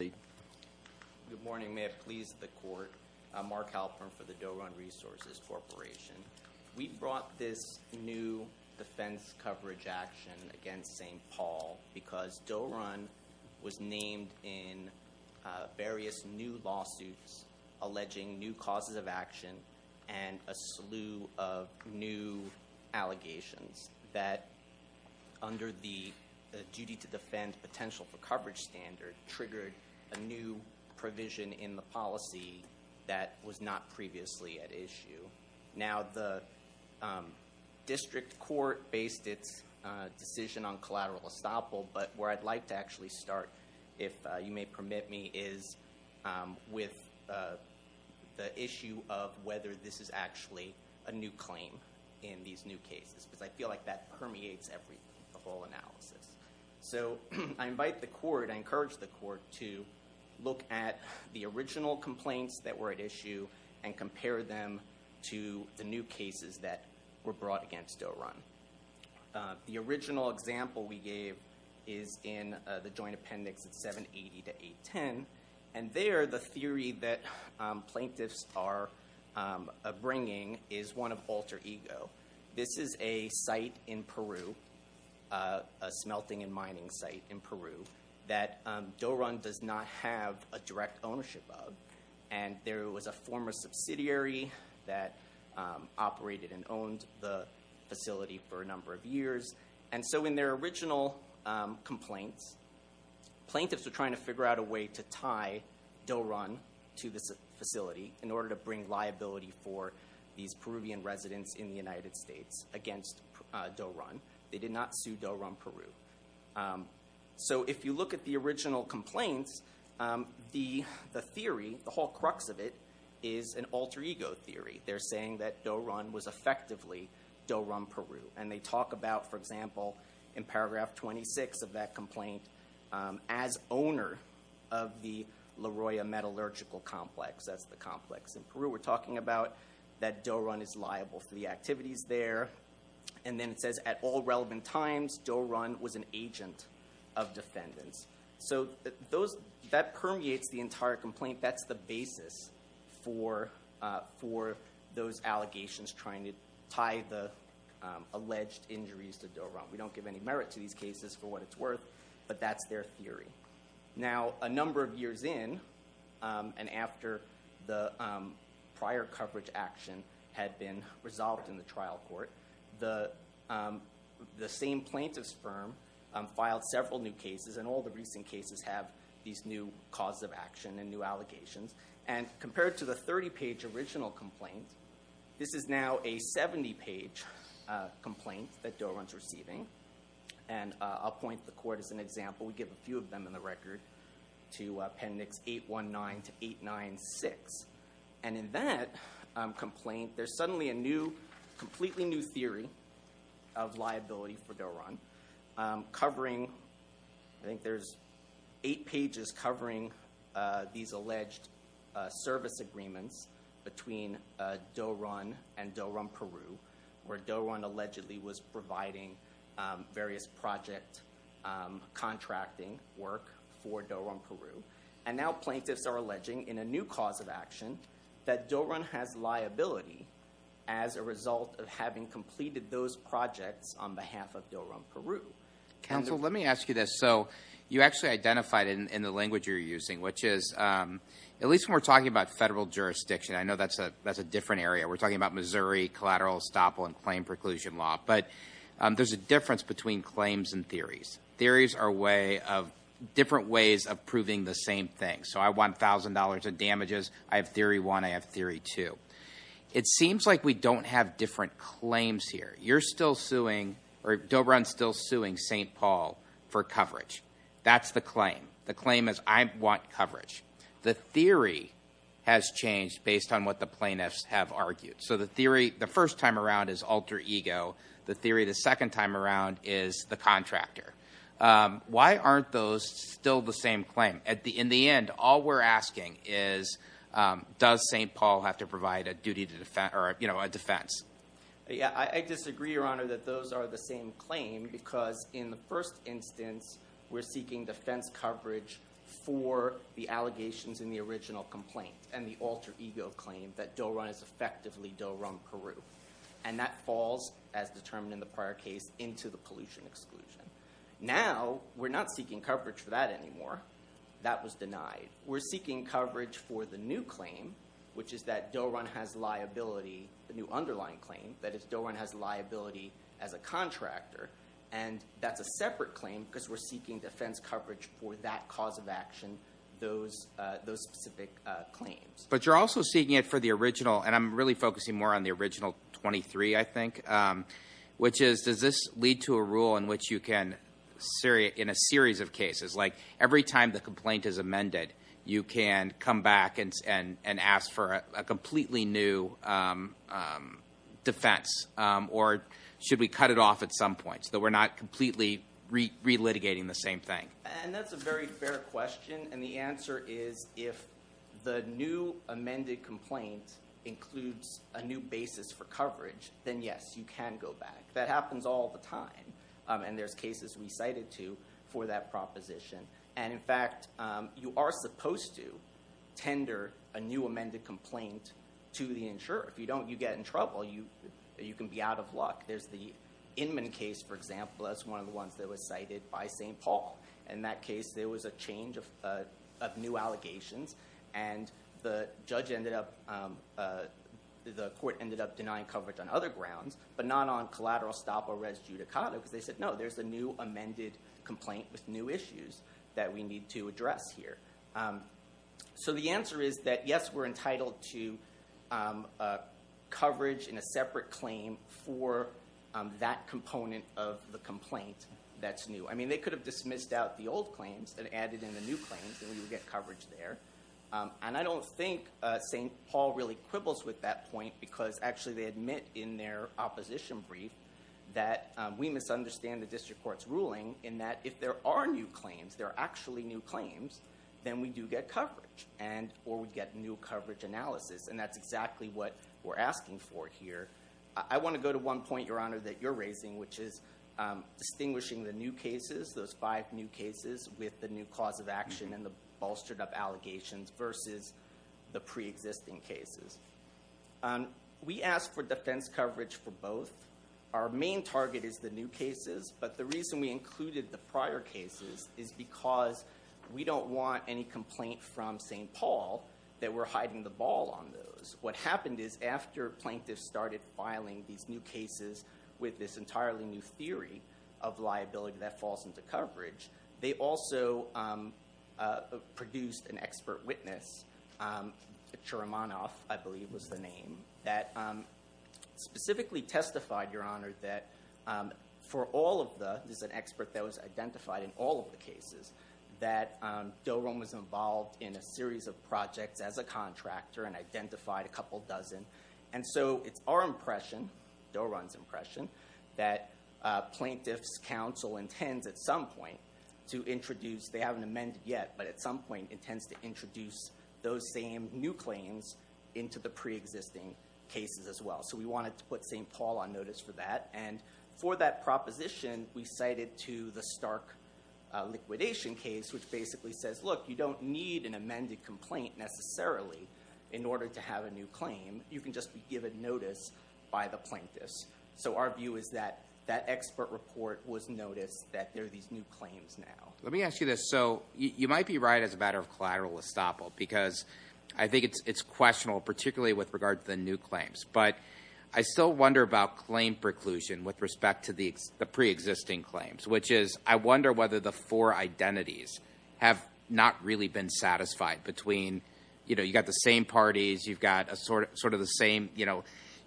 Good morning. May it please the court. Mark Halpern for the Doe Run Resources Corporation. We brought this new defense coverage action against St. Paul because Doe Run was named in various new lawsuits alleging new causes of action and a slew of new allegations that under the duty to defend potential for a new provision in the policy that was not previously at issue. Now the district court based its decision on collateral estoppel but where I'd like to actually start if you may permit me is with the issue of whether this is actually a new claim in these new cases because I feel like that permeates everything the whole look at the original complaints that were at issue and compare them to the new cases that were brought against Doe Run. The original example we gave is in the joint appendix at 780 to 810 and there the theory that plaintiffs are bringing is one of alter ego. This is a site in Peru, a smelting and mining site in Peru that Doe Run does not have a direct ownership of and there was a former subsidiary that operated and owned the facility for a number of years and so in their original complaints plaintiffs are trying to figure out a way to tie Doe Run to this facility in order to bring liability for these Peruvian residents in the United States against Doe Run. They did not sue Doe Run in Peru. So if you look at the original complaints the theory, the whole crux of it is an alter ego theory. They're saying that Doe Run was effectively Doe Run Peru and they talk about for example in paragraph 26 of that complaint as owner of the La Roya metallurgical complex. That's the complex in Peru we're talking about that Doe Run is liable for the activities there and then it says at all Doe Run was an agent of defendants. So those that permeates the entire complaint that's the basis for for those allegations trying to tie the alleged injuries to Doe Run. We don't give any merit to these cases for what it's worth but that's their theory. Now a number of years in and after the prior coverage action had been resolved in the trial court the the same plaintiff's firm filed several new cases and all the recent cases have these new cause of action and new allegations and compared to the 30 page original complaint this is now a 70 page complaint that Doe Run is receiving and I'll point the court as an example. We give a few of them in the record to appendix 819 to 896 and in that complaint there's suddenly a new completely new theory of liability for Doe Run covering I think there's eight pages covering these alleged service agreements between Doe Run and Doe Run Peru where Doe Run allegedly was providing various project contracting work for Doe Run Peru and now plaintiffs are alleging in a new cause of action that Doe Run has liability as a result of having completed those projects on behalf of Doe Run Peru. Counsel let me ask you this so you actually identified in the language you're using which is at least when we're talking about federal jurisdiction I know that's a that's a different area we're talking about Missouri collateral estoppel and claim preclusion law but there's a difference between claims and theories. Theories are way of different ways of proving the same thing so I want thousand dollars of damages I have theory 1 I have theory 2. It seems like we don't have different claims here you're still suing or Doe Run still suing st. Paul for coverage that's the claim the claim is I want coverage the theory has changed based on what the plaintiffs have argued so the theory the first time around is alter ego the theory the second time around is the contractor why aren't those still the same claim at the in the end all we're asking is does st. Paul have to provide a duty to defend or you know a defense yeah I disagree your honor that those are the same claim because in the first instance we're seeking defense coverage for the allegations in the original complaint and the alter ego claim that Doe Run is effectively Doe Run Peru and that falls as determined in the prior case into the pollution exclusion now we're not seeking coverage for that anymore that was denied we're seeking coverage for the new claim which is that Doe Run has liability the new underlying claim that if Doe Run has liability as a contractor and that's a separate claim because we're seeking defense coverage for that cause of action those those specific claims but you're also seeking it for the original and I'm really focusing more on the original 23 I think which is does this lead to a rule in which you can Syria in a series of cases like every time the complaint is amended you can come back and ask for a completely new defense or should we cut it off at some point so we're not completely re-litigating the same thing and that's a very fair question and the answer is if the new amended complaint includes a new basis for coverage then yes you can go back that happens all the time and there's cases we cited to for that proposition and in fact you are supposed to tender a new amended complaint to the insurer if you don't you get in trouble you you can be out of luck there's the Inman case for example that's one of the ones that was cited by st. Paul in that case there was a change of new allegations and the judge ended up the court ended up denying coverage on other grounds but not on collateral stop or res judicata because they said no there's a new amended complaint with new issues that we need to address here so the answer is that yes we're entitled to coverage in a separate claim for that component of the complaint that's new I mean they could have dismissed out the old claims that added in the new claims and we would get coverage there and I don't think st. Paul really quibbles with that point because actually they admit in their opposition brief that we misunderstand the district court's ruling in that if there are new claims there are actually new claims then we do get coverage and or we get new coverage analysis and that's exactly what we're asking for here I want to go to one point your honor that you're raising which is distinguishing the new cases those five new cases with the new cause of action and the bolstered up allegations versus the pre-existing cases we asked for defense coverage for both our main target is the new cases but the reason we included the prior cases is because we don't want any complaint from st. Paul that we're hiding the ball on those what happened is after plaintiffs started filing these new cases with this entirely new theory of liability that falls into coverage they also produced an expert witness Shurman off I believe was the name that specifically testified your honor that for all of the there's an expert that was identified in all of the cases that Doran was involved in a series of projects as a contractor and identified a couple dozen and so it's our impression Doran's impression that plaintiffs counsel intends at some point to those same new claims into the pre-existing cases as well so we wanted to put st. Paul on notice for that and for that proposition we cited to the stark liquidation case which basically says look you don't need an amended complaint necessarily in order to have a new claim you can just be given notice by the plaintiffs so our view is that that expert report was noticed that there are these new claims now let me ask you this so you might be right as a because I think it's it's questionable particularly with regard to the new claims but I still wonder about claim preclusion with respect to the pre existing claims which is I wonder whether the four identities have not really been satisfied between you know you got the same parties you've got a sort of sort of the same you know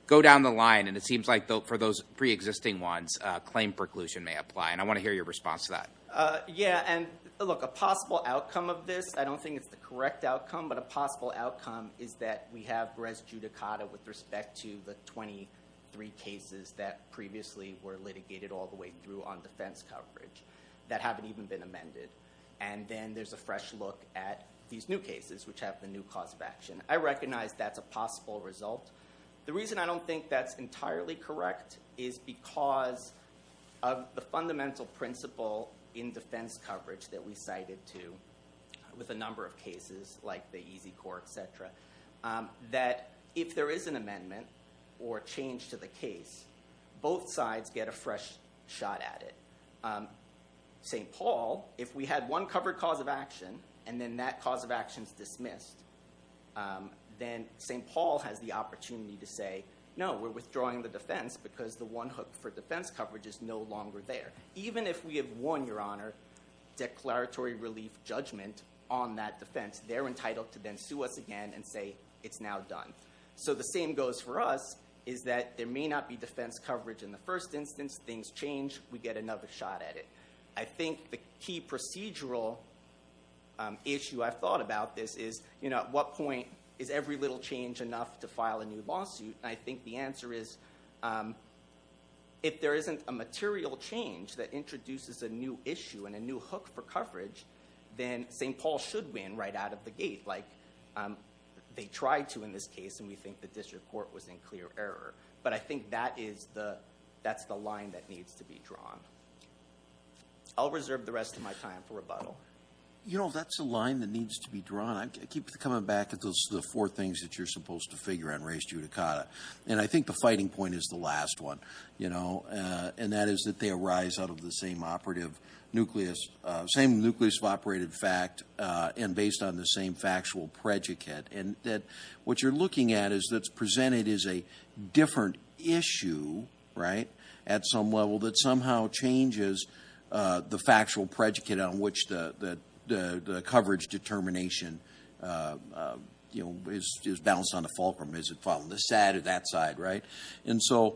go down the line and it seems like though for those pre-existing ones claim preclusion may apply and I want to hear your response to that yeah and look a possible outcome of this I don't think it's the correct outcome but a possible outcome is that we have res judicata with respect to the 23 cases that previously were litigated all the way through on defense coverage that haven't even been amended and then there's a fresh look at these new cases which have the new cause of action I recognize that's a possible result the reason I don't think that's entirely correct is because of the fundamental principle in defense coverage that we cited to with a cases like the easy core etc that if there is an amendment or change to the case both sides get a fresh shot at it st. Paul if we had one covered cause of action and then that cause of actions dismissed then st. Paul has the opportunity to say no we're withdrawing the defense because the one hook for defense coverage is no longer there even if we have won your honor declaratory relief judgment on that defense they're entitled to then sue us again and say it's now done so the same goes for us is that there may not be defense coverage in the first instance things change we get another shot at it I think the key procedural issue I've thought about this is you know at what point is every little change enough to file a new lawsuit I think the answer is if there isn't a material change that introduces a new issue and a new hook for coverage then st. Paul should win right out of the gate like they tried to in this case and we think the district court was in clear error but I think that is the that's the line that needs to be drawn I'll reserve the rest of my time for rebuttal you know that's a line that needs to be drawn I keep coming back at those the four things that you're supposed to figure out race judicata and I think the fighting point is the last one you know and that is that they arise out of the same operative nucleus same nucleus of operated fact and based on the same factual predicate and that what you're looking at is that's presented is a different issue right at some level that somehow changes the factual predicate on which the the coverage determination you is just balanced on the fulcrum is it following the side of that side right and so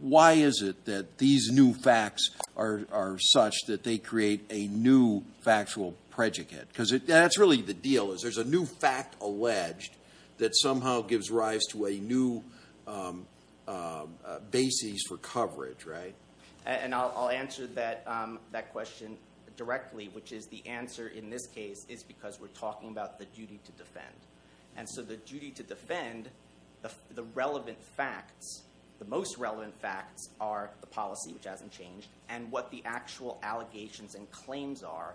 why is it that these new facts are such that they create a new factual predicate because it that's really the deal is there's a new fact alleged that somehow gives rise to a new basis for coverage right and I'll answer that that question directly which is the answer in this case is because we're talking about the duty to defend and so the duty to defend the relevant facts the most relevant facts are the policy which hasn't changed and what the actual allegations and claims are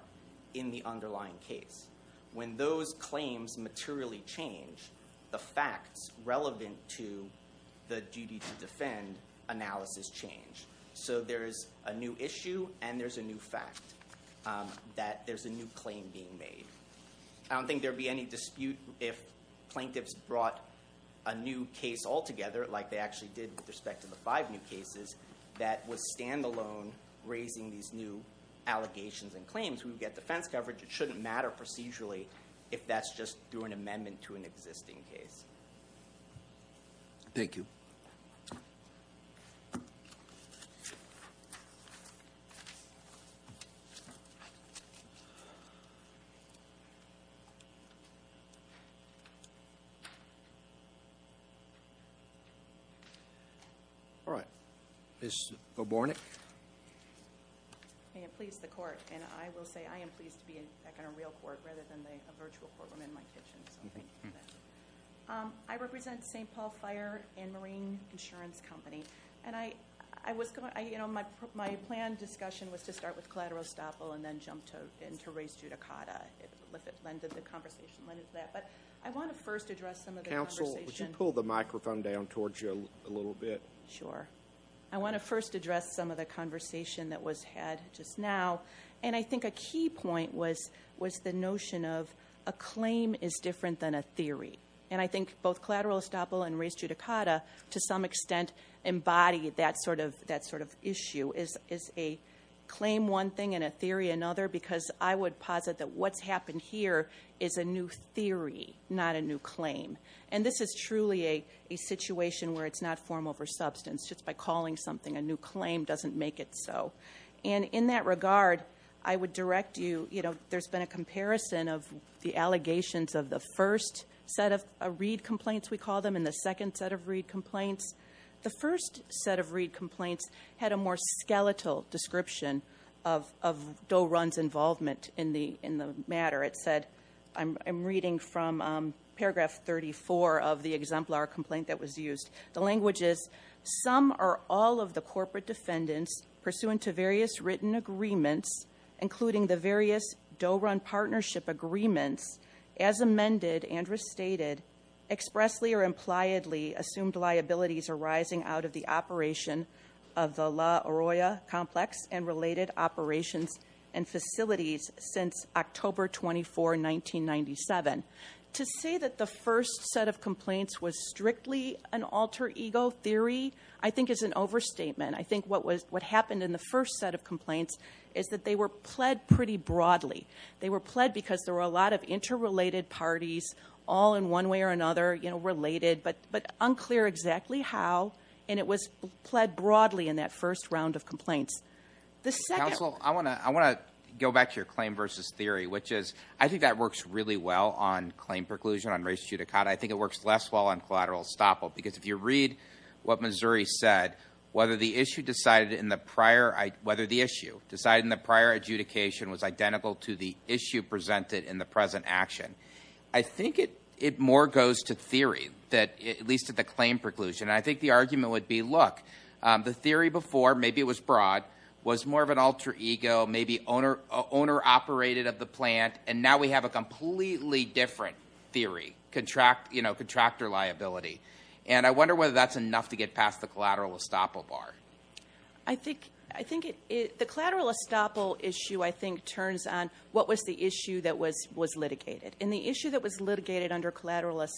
in the underlying case when those claims materially change the facts relevant to the duty to defend analysis change so there is a new issue and there's a new fact that there's a new claim being made I don't think there'd be any dispute if plaintiffs brought a new case all together like they actually did with respect to the five new cases that was standalone raising these new allegations and claims we would get defense coverage it shouldn't matter procedurally if that's just through an amendment to an existing case thank you all right this morning please the court and I will say I am pleased to be in a real court rather than a virtual courtroom in my kitchen I represent st. Paul fire and marine insurance company and I I was going you know my plan discussion was to start with collateral estoppel and then jump to into race judicata but I want to first address some of the council would you pull the microphone down towards you a little bit sure I want to first address some of the conversation that was had just now and I think a key point was was the notion of a claim is different than a theory and I think both collateral estoppel and race judicata to some extent embody that sort of that sort of issue is is a claim one and a theory another because I would posit that what's happened here is a new theory not a new claim and this is truly a situation where it's not form over substance just by calling something a new claim doesn't make it so and in that regard I would direct you you know there's been a comparison of the allegations of the first set of read complaints we call them in the second set of read complaints the first set of read complaints had a more skeletal description of Doe Run's involvement in the in the matter it said I'm reading from paragraph 34 of the exemplar complaint that was used the language is some are all of the corporate defendants pursuant to various written agreements including the various Doe Run partnership agreements as amended and restated expressly or impliedly assumed liabilities arising out of the operation of the La Arroya complex and related operations and facilities since October 24 1997 to say that the first set of complaints was strictly an alter ego theory I think is an overstatement I think what was what happened in the first set of complaints is that they were pled pretty broadly they were pled because there were a lot of interrelated parties all in one way or another you and it was pled broadly in that first round of complaints the second I want to I want to go back to your claim versus theory which is I think that works really well on claim preclusion on race judicata I think it works less well on collateral estoppel because if you read what Missouri said whether the issue decided in the prior I whether the issue decided in the prior adjudication was identical to the issue presented in the present action I think it it more goes to theory that at least at the claim preclusion I think the argument would be look the theory before maybe it was broad was more of an alter ego maybe owner owner operated at the plant and now we have a completely different theory contract you know contractor liability and I wonder whether that's enough to get past the collateral estoppel bar I think I think it is the collateral estoppel issue I think turns on what was the issue that was was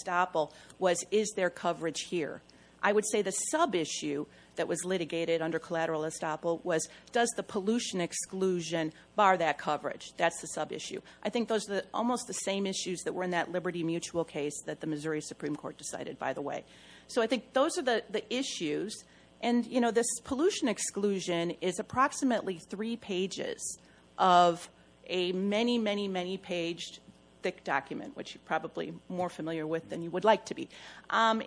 estoppel was is their coverage here I would say the subissue that was litigated under collateral estoppel was does the pollution exclusion bar that coverage that's the subissue I think those that almost the same issues that were in that liberty mutual case that the Missouri Supreme Court decided by the way so I think those are the issues and you know this pollution exclusion is approximately three pages of a many many many page thick document which you more familiar with than you would like to be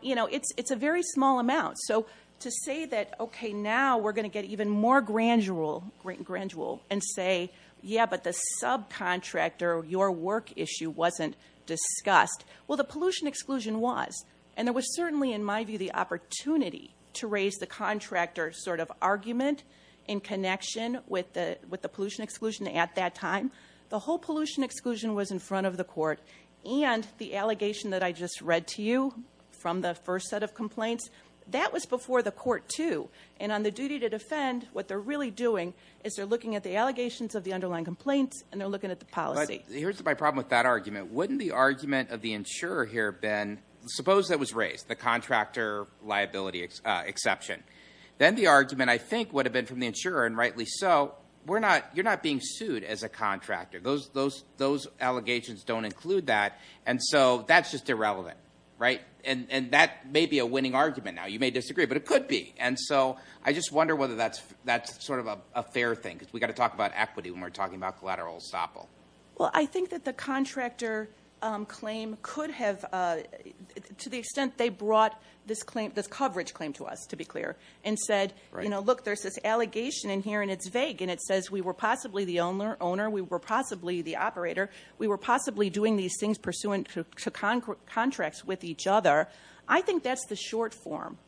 you know it's it's a very small amount so to say that okay now we're going to get even more grand jewel great grand jewel and say yeah but the subcontractor your work issue wasn't discussed well the pollution exclusion was and there was certainly in my view the opportunity to raise the contractor sort of argument in connection with the with the pollution exclusion at that time the whole pollution exclusion was in front of the court and the allegation that I just read to you from the first set of complaints that was before the court too and on the duty to defend what they're really doing is they're looking at the allegations of the underlying complaints and they're looking at the policy here's my problem with that argument wouldn't the argument of the insurer here been suppose that was raised the contractor liability exception then the argument I think would have been from the insurer and rightly so we're not you're not being sued as a contractor those those those allegations don't include that and so that's just irrelevant right and and that may be a winning argument now you may disagree but it could be and so I just wonder whether that's that's sort of a fair thing because we got to talk about equity when we're talking about collateral estoppel well I think that the contractor claim could have to the extent they brought this claim this coverage claim to us to be clear and said you know look there's this allegation in here and it's vague and it we were possibly the owner owner we were possibly the operator we were possibly doing these things pursuant to contracts with each other I think that's the short form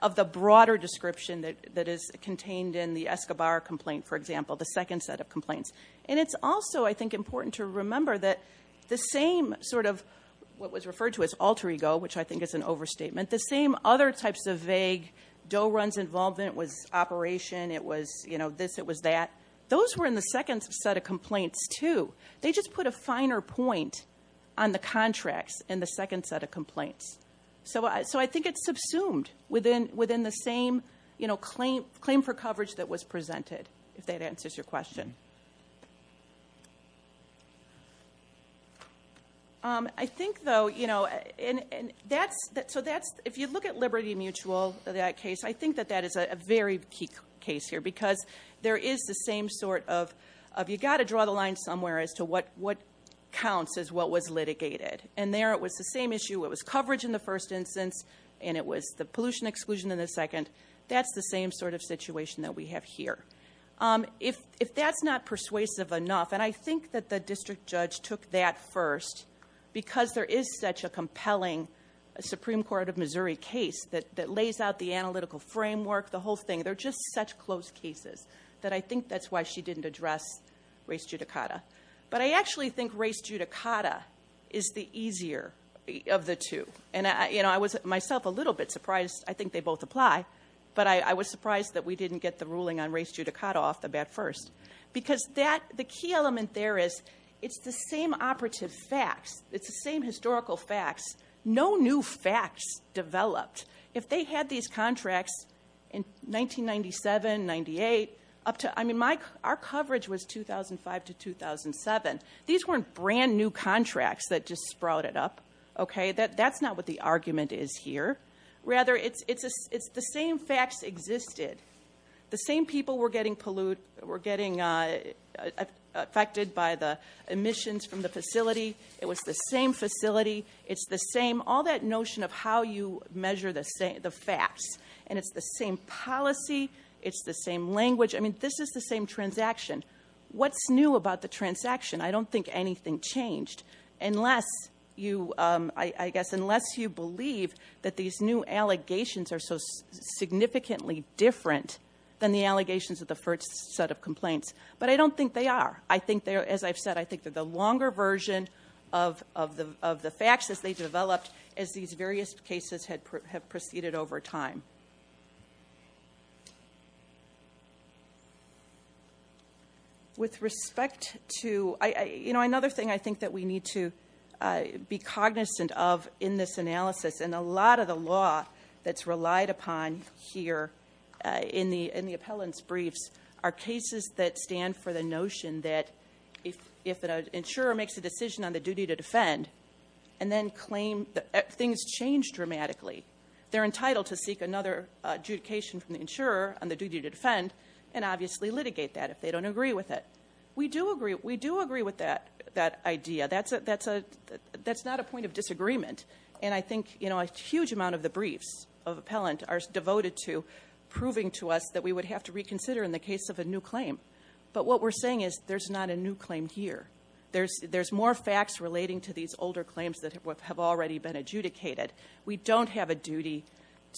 of the broader description that that is contained in the Escobar complaint for example the second set of complaints and it's also I think important to remember that the same sort of what was referred to as alter ego which I think is an overstatement the same other types of vague dough runs involvement was operation it was you know this it was that those were in the second set of complaints to they just put a finer point on the contracts in the second set of complaints so I so I think it's subsumed within within the same you know claim claim for coverage that was presented if that answers your question I think though you know and that's that so that's if you look at Liberty Mutual that case I think that that is a very key case here because there is the same sort of you got to draw the line somewhere as to what what counts as what was litigated and there it was the same issue it was coverage in the first instance and it was the pollution exclusion in the second that's the same sort of situation that we have here if if that's not persuasive enough and I think that the district judge took that first because there is such a compelling Supreme Court of Missouri case that that lays out the analytical framework the whole thing they're just such close cases that I think that's why she didn't address race judicata but I actually think race judicata is the easier of the two and I you know I was myself a little bit surprised I think they both apply but I was surprised that we didn't get the ruling on race judicata off the bat first because that the key element there is it's the same operative facts it's the new facts developed if they had these contracts in 1997-98 up to I mean Mike our coverage was 2005 to 2007 these weren't brand new contracts that just sprouted up okay that that's not what the argument is here rather it's it's a it's the same facts existed the same people were getting pollute we're getting affected by the emissions from the facility it was the same facility it's the same all that notion of how you measure the same the facts and it's the same policy it's the same language I mean this is the same transaction what's new about the transaction I don't think anything changed unless you I guess unless you believe that these new allegations are so significantly different than the allegations of the first set of complaints but I don't think they are I think they're as I've said I think that the longer version of of the of the faxes they developed as these various cases had proceeded over time with respect to you know another thing I think that we need to be cognizant of in this analysis and a lot of the law that's relied upon here in the in the appellant's briefs are cases that stand for the notion that if if an insurer makes a decision on the duty to defend and then claim that things change dramatically they're entitled to seek another adjudication from the insurer on the duty to defend and obviously litigate that if they don't agree with it we do agree we do agree with that that idea that's a that's a that's not a point of disagreement and I think you know a huge amount of the briefs of appellant are devoted to proving to us that we would have to reconsider in the case of a new claim but what we're saying is there's not a new claim here there's there's more facts relating to these older claims that have already been adjudicated we don't have a duty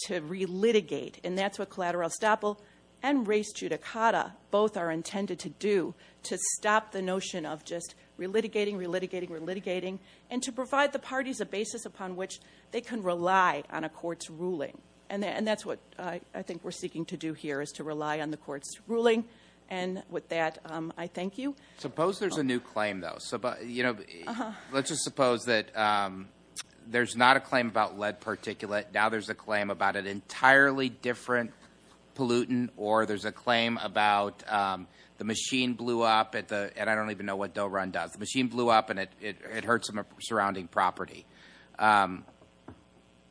to re-litigate and that's what collateral estoppel and race judicata both are intended to do to stop the notion of just re-litigating re-litigating re-litigating and to provide the parties a basis upon which they can rely on a court's ruling and that and that's what I think we're seeking to do here is to rely on the court's ruling and with that I thank you suppose there's a new claim though so but you know let's just suppose that there's not a claim about lead particulate now there's a claim about an entirely different pollutant or there's a claim about the machine blew up at the and I don't even know what don't run does the machine blew up and it hurts them a surrounding property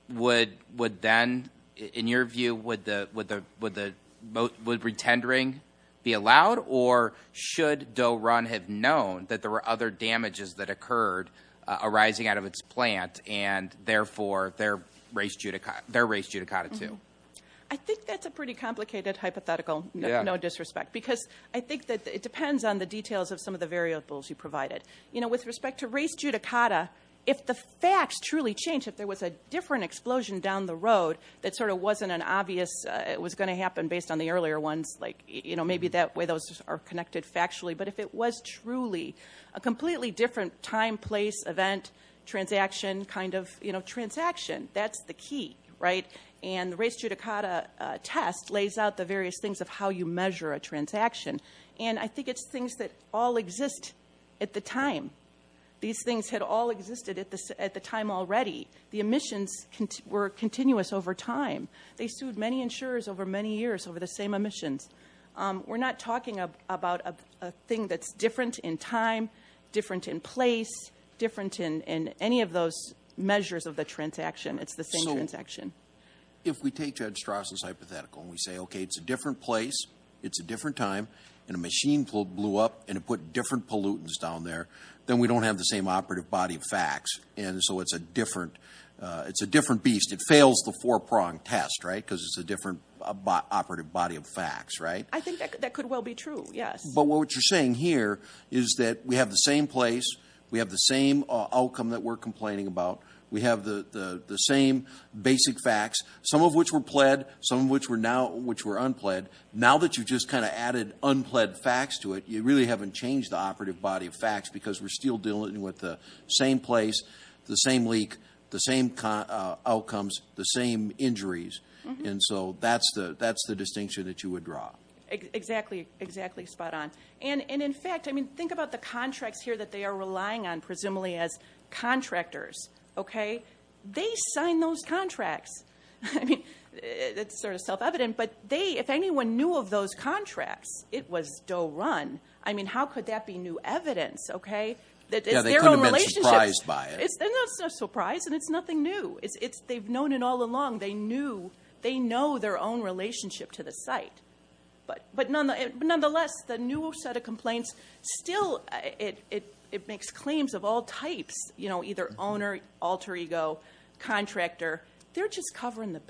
would would then in your view would the would the would the boat would pretend ring be allowed or should do run have known that there were other damages that occurred arising out of its plant and therefore their race judica their race judicata to I think that's a pretty complicated hypothetical no disrespect because I think that it depends on the details of some of the variables you provided you know with respect to race judicata if the facts truly change if there was a different explosion down the it was going to happen based on the earlier ones like you know maybe that way those are connected factually but if it was truly a completely different time place event transaction kind of you know transaction that's the key right and the race judicata test lays out the various things of how you measure a transaction and I think it's things that all exist at the time these things had all existed at this at the time already the emissions were continuous over time they sued many insurers over many years over the same emissions we're not talking about a thing that's different in time different in place different in any of those measures of the transaction it's the same transaction if we take judge Strauss's hypothetical and we say okay it's a different place it's a different time and a machine pulled blew up and it put different pollutants down there then we don't have the same operative body of facts and so it's a it's a different beast it fails the four-pronged test right because it's a different operative body of facts right I think that could well be true yes but what you're saying here is that we have the same place we have the same outcome that we're complaining about we have the the same basic facts some of which were pled some of which were now which were unpled now that you just kind of added unpled facts to it you really haven't changed the operative body of facts because we're still dealing with the same place the same leak the same outcomes the same injuries and so that's the that's the distinction that you would draw exactly exactly spot-on and and in fact I mean think about the contracts here that they are relying on presumably as contractors okay they sign those contracts I mean it's sort of self-evident but they if anyone knew of those contracts it was dough run I mean how could that be new evidence okay that they're only surprised by it's a surprise and it's nothing new it's it's they've known it all along they knew they know their own relationship to the site but but nonetheless the new set of complaints still it it it makes claims of all types you know either owner alter ego contractor they're just covering the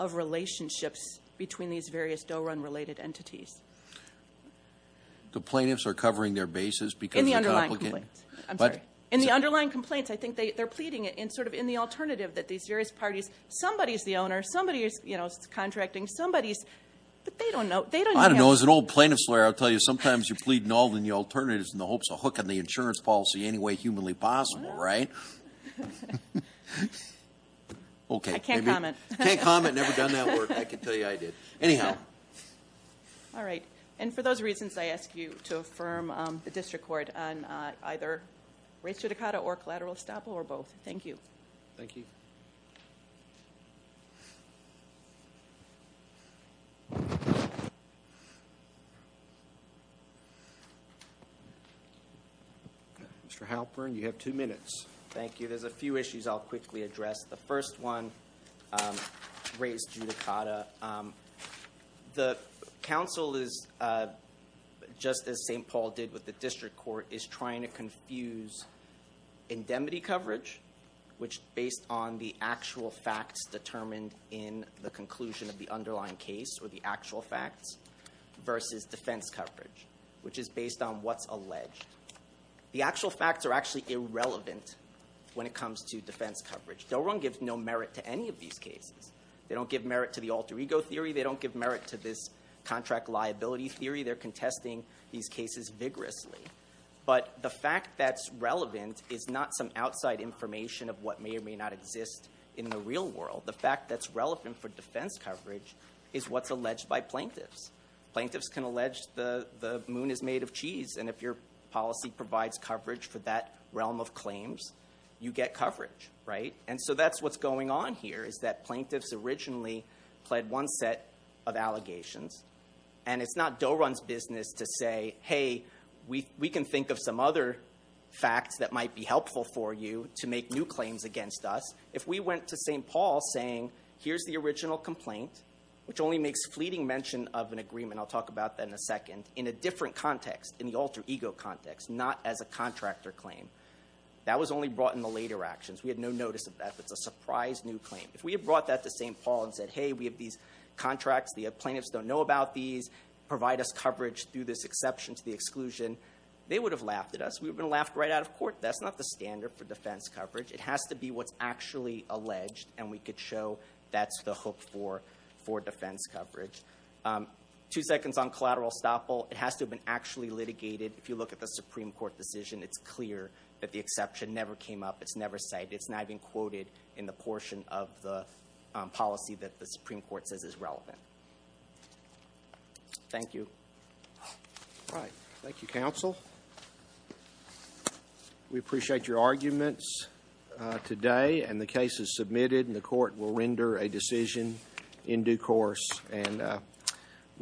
relationships between these various dough run related entities the plaintiffs are covering their bases because in the underlying complaints I think they they're pleading it in sort of in the alternative that these various parties somebody's the owner somebody is you know it's contracting somebody's but they don't know they don't know as an old plaintiff's lawyer I'll tell you sometimes you're pleading all the new alternatives in the hopes of hooking the insurance policy anyway humanly possible right okay I can't comment comment never done that work I can tell you I did anyhow all right and for those reasons I ask you to affirm the district court on either race to Dakota or collateral estoppel or both thank you thank you mr. Halpern you have two minutes thank you there's a few issues I'll quickly address the first one race to Dakota the council is just as st. Paul did with the district court is trying to confuse indemnity coverage which based on the actual facts determined in the conclusion of the underlying case or the actual facts versus defense coverage which is based on what's alleged the wrong gives no merit to any of these cases they don't give merit to the alter ego theory they don't give merit to this contract liability theory they're contesting these cases vigorously but the fact that's relevant is not some outside information of what may or may not exist in the real world the fact that's relevant for defense coverage is what's alleged by plaintiffs plaintiffs can allege the the moon is made of cheese and if your policy provides coverage for that realm of claims you get coverage right and so that's what's going on here is that plaintiffs originally pled one set of allegations and it's not dough runs business to say hey we we can think of some other facts that might be helpful for you to make new claims against us if we went to st. Paul saying here's the original complaint which only makes fleeting mention of an agreement I'll talk about that in a second in a different context in the alter ego context not as a contractor claim that was only brought in the later actions we had no notice of that it's a surprise new claim if we have brought that to st. Paul and said hey we have these contracts the plaintiffs don't know about these provide us coverage through this exception to the exclusion they would have laughed at us we've been laughed right out of court that's not the standard for defense coverage it has to be what's actually alleged and we could show that's the hook for for defense coverage two seconds on collateral stop all it has to have been actually litigated if you look at the Supreme Court decision it's clear that the exception never came up it's never said it's not even quoted in the portion of the policy that the Supreme Court says is relevant thank you all right thank you counsel we appreciate your arguments today and the case is submitted and the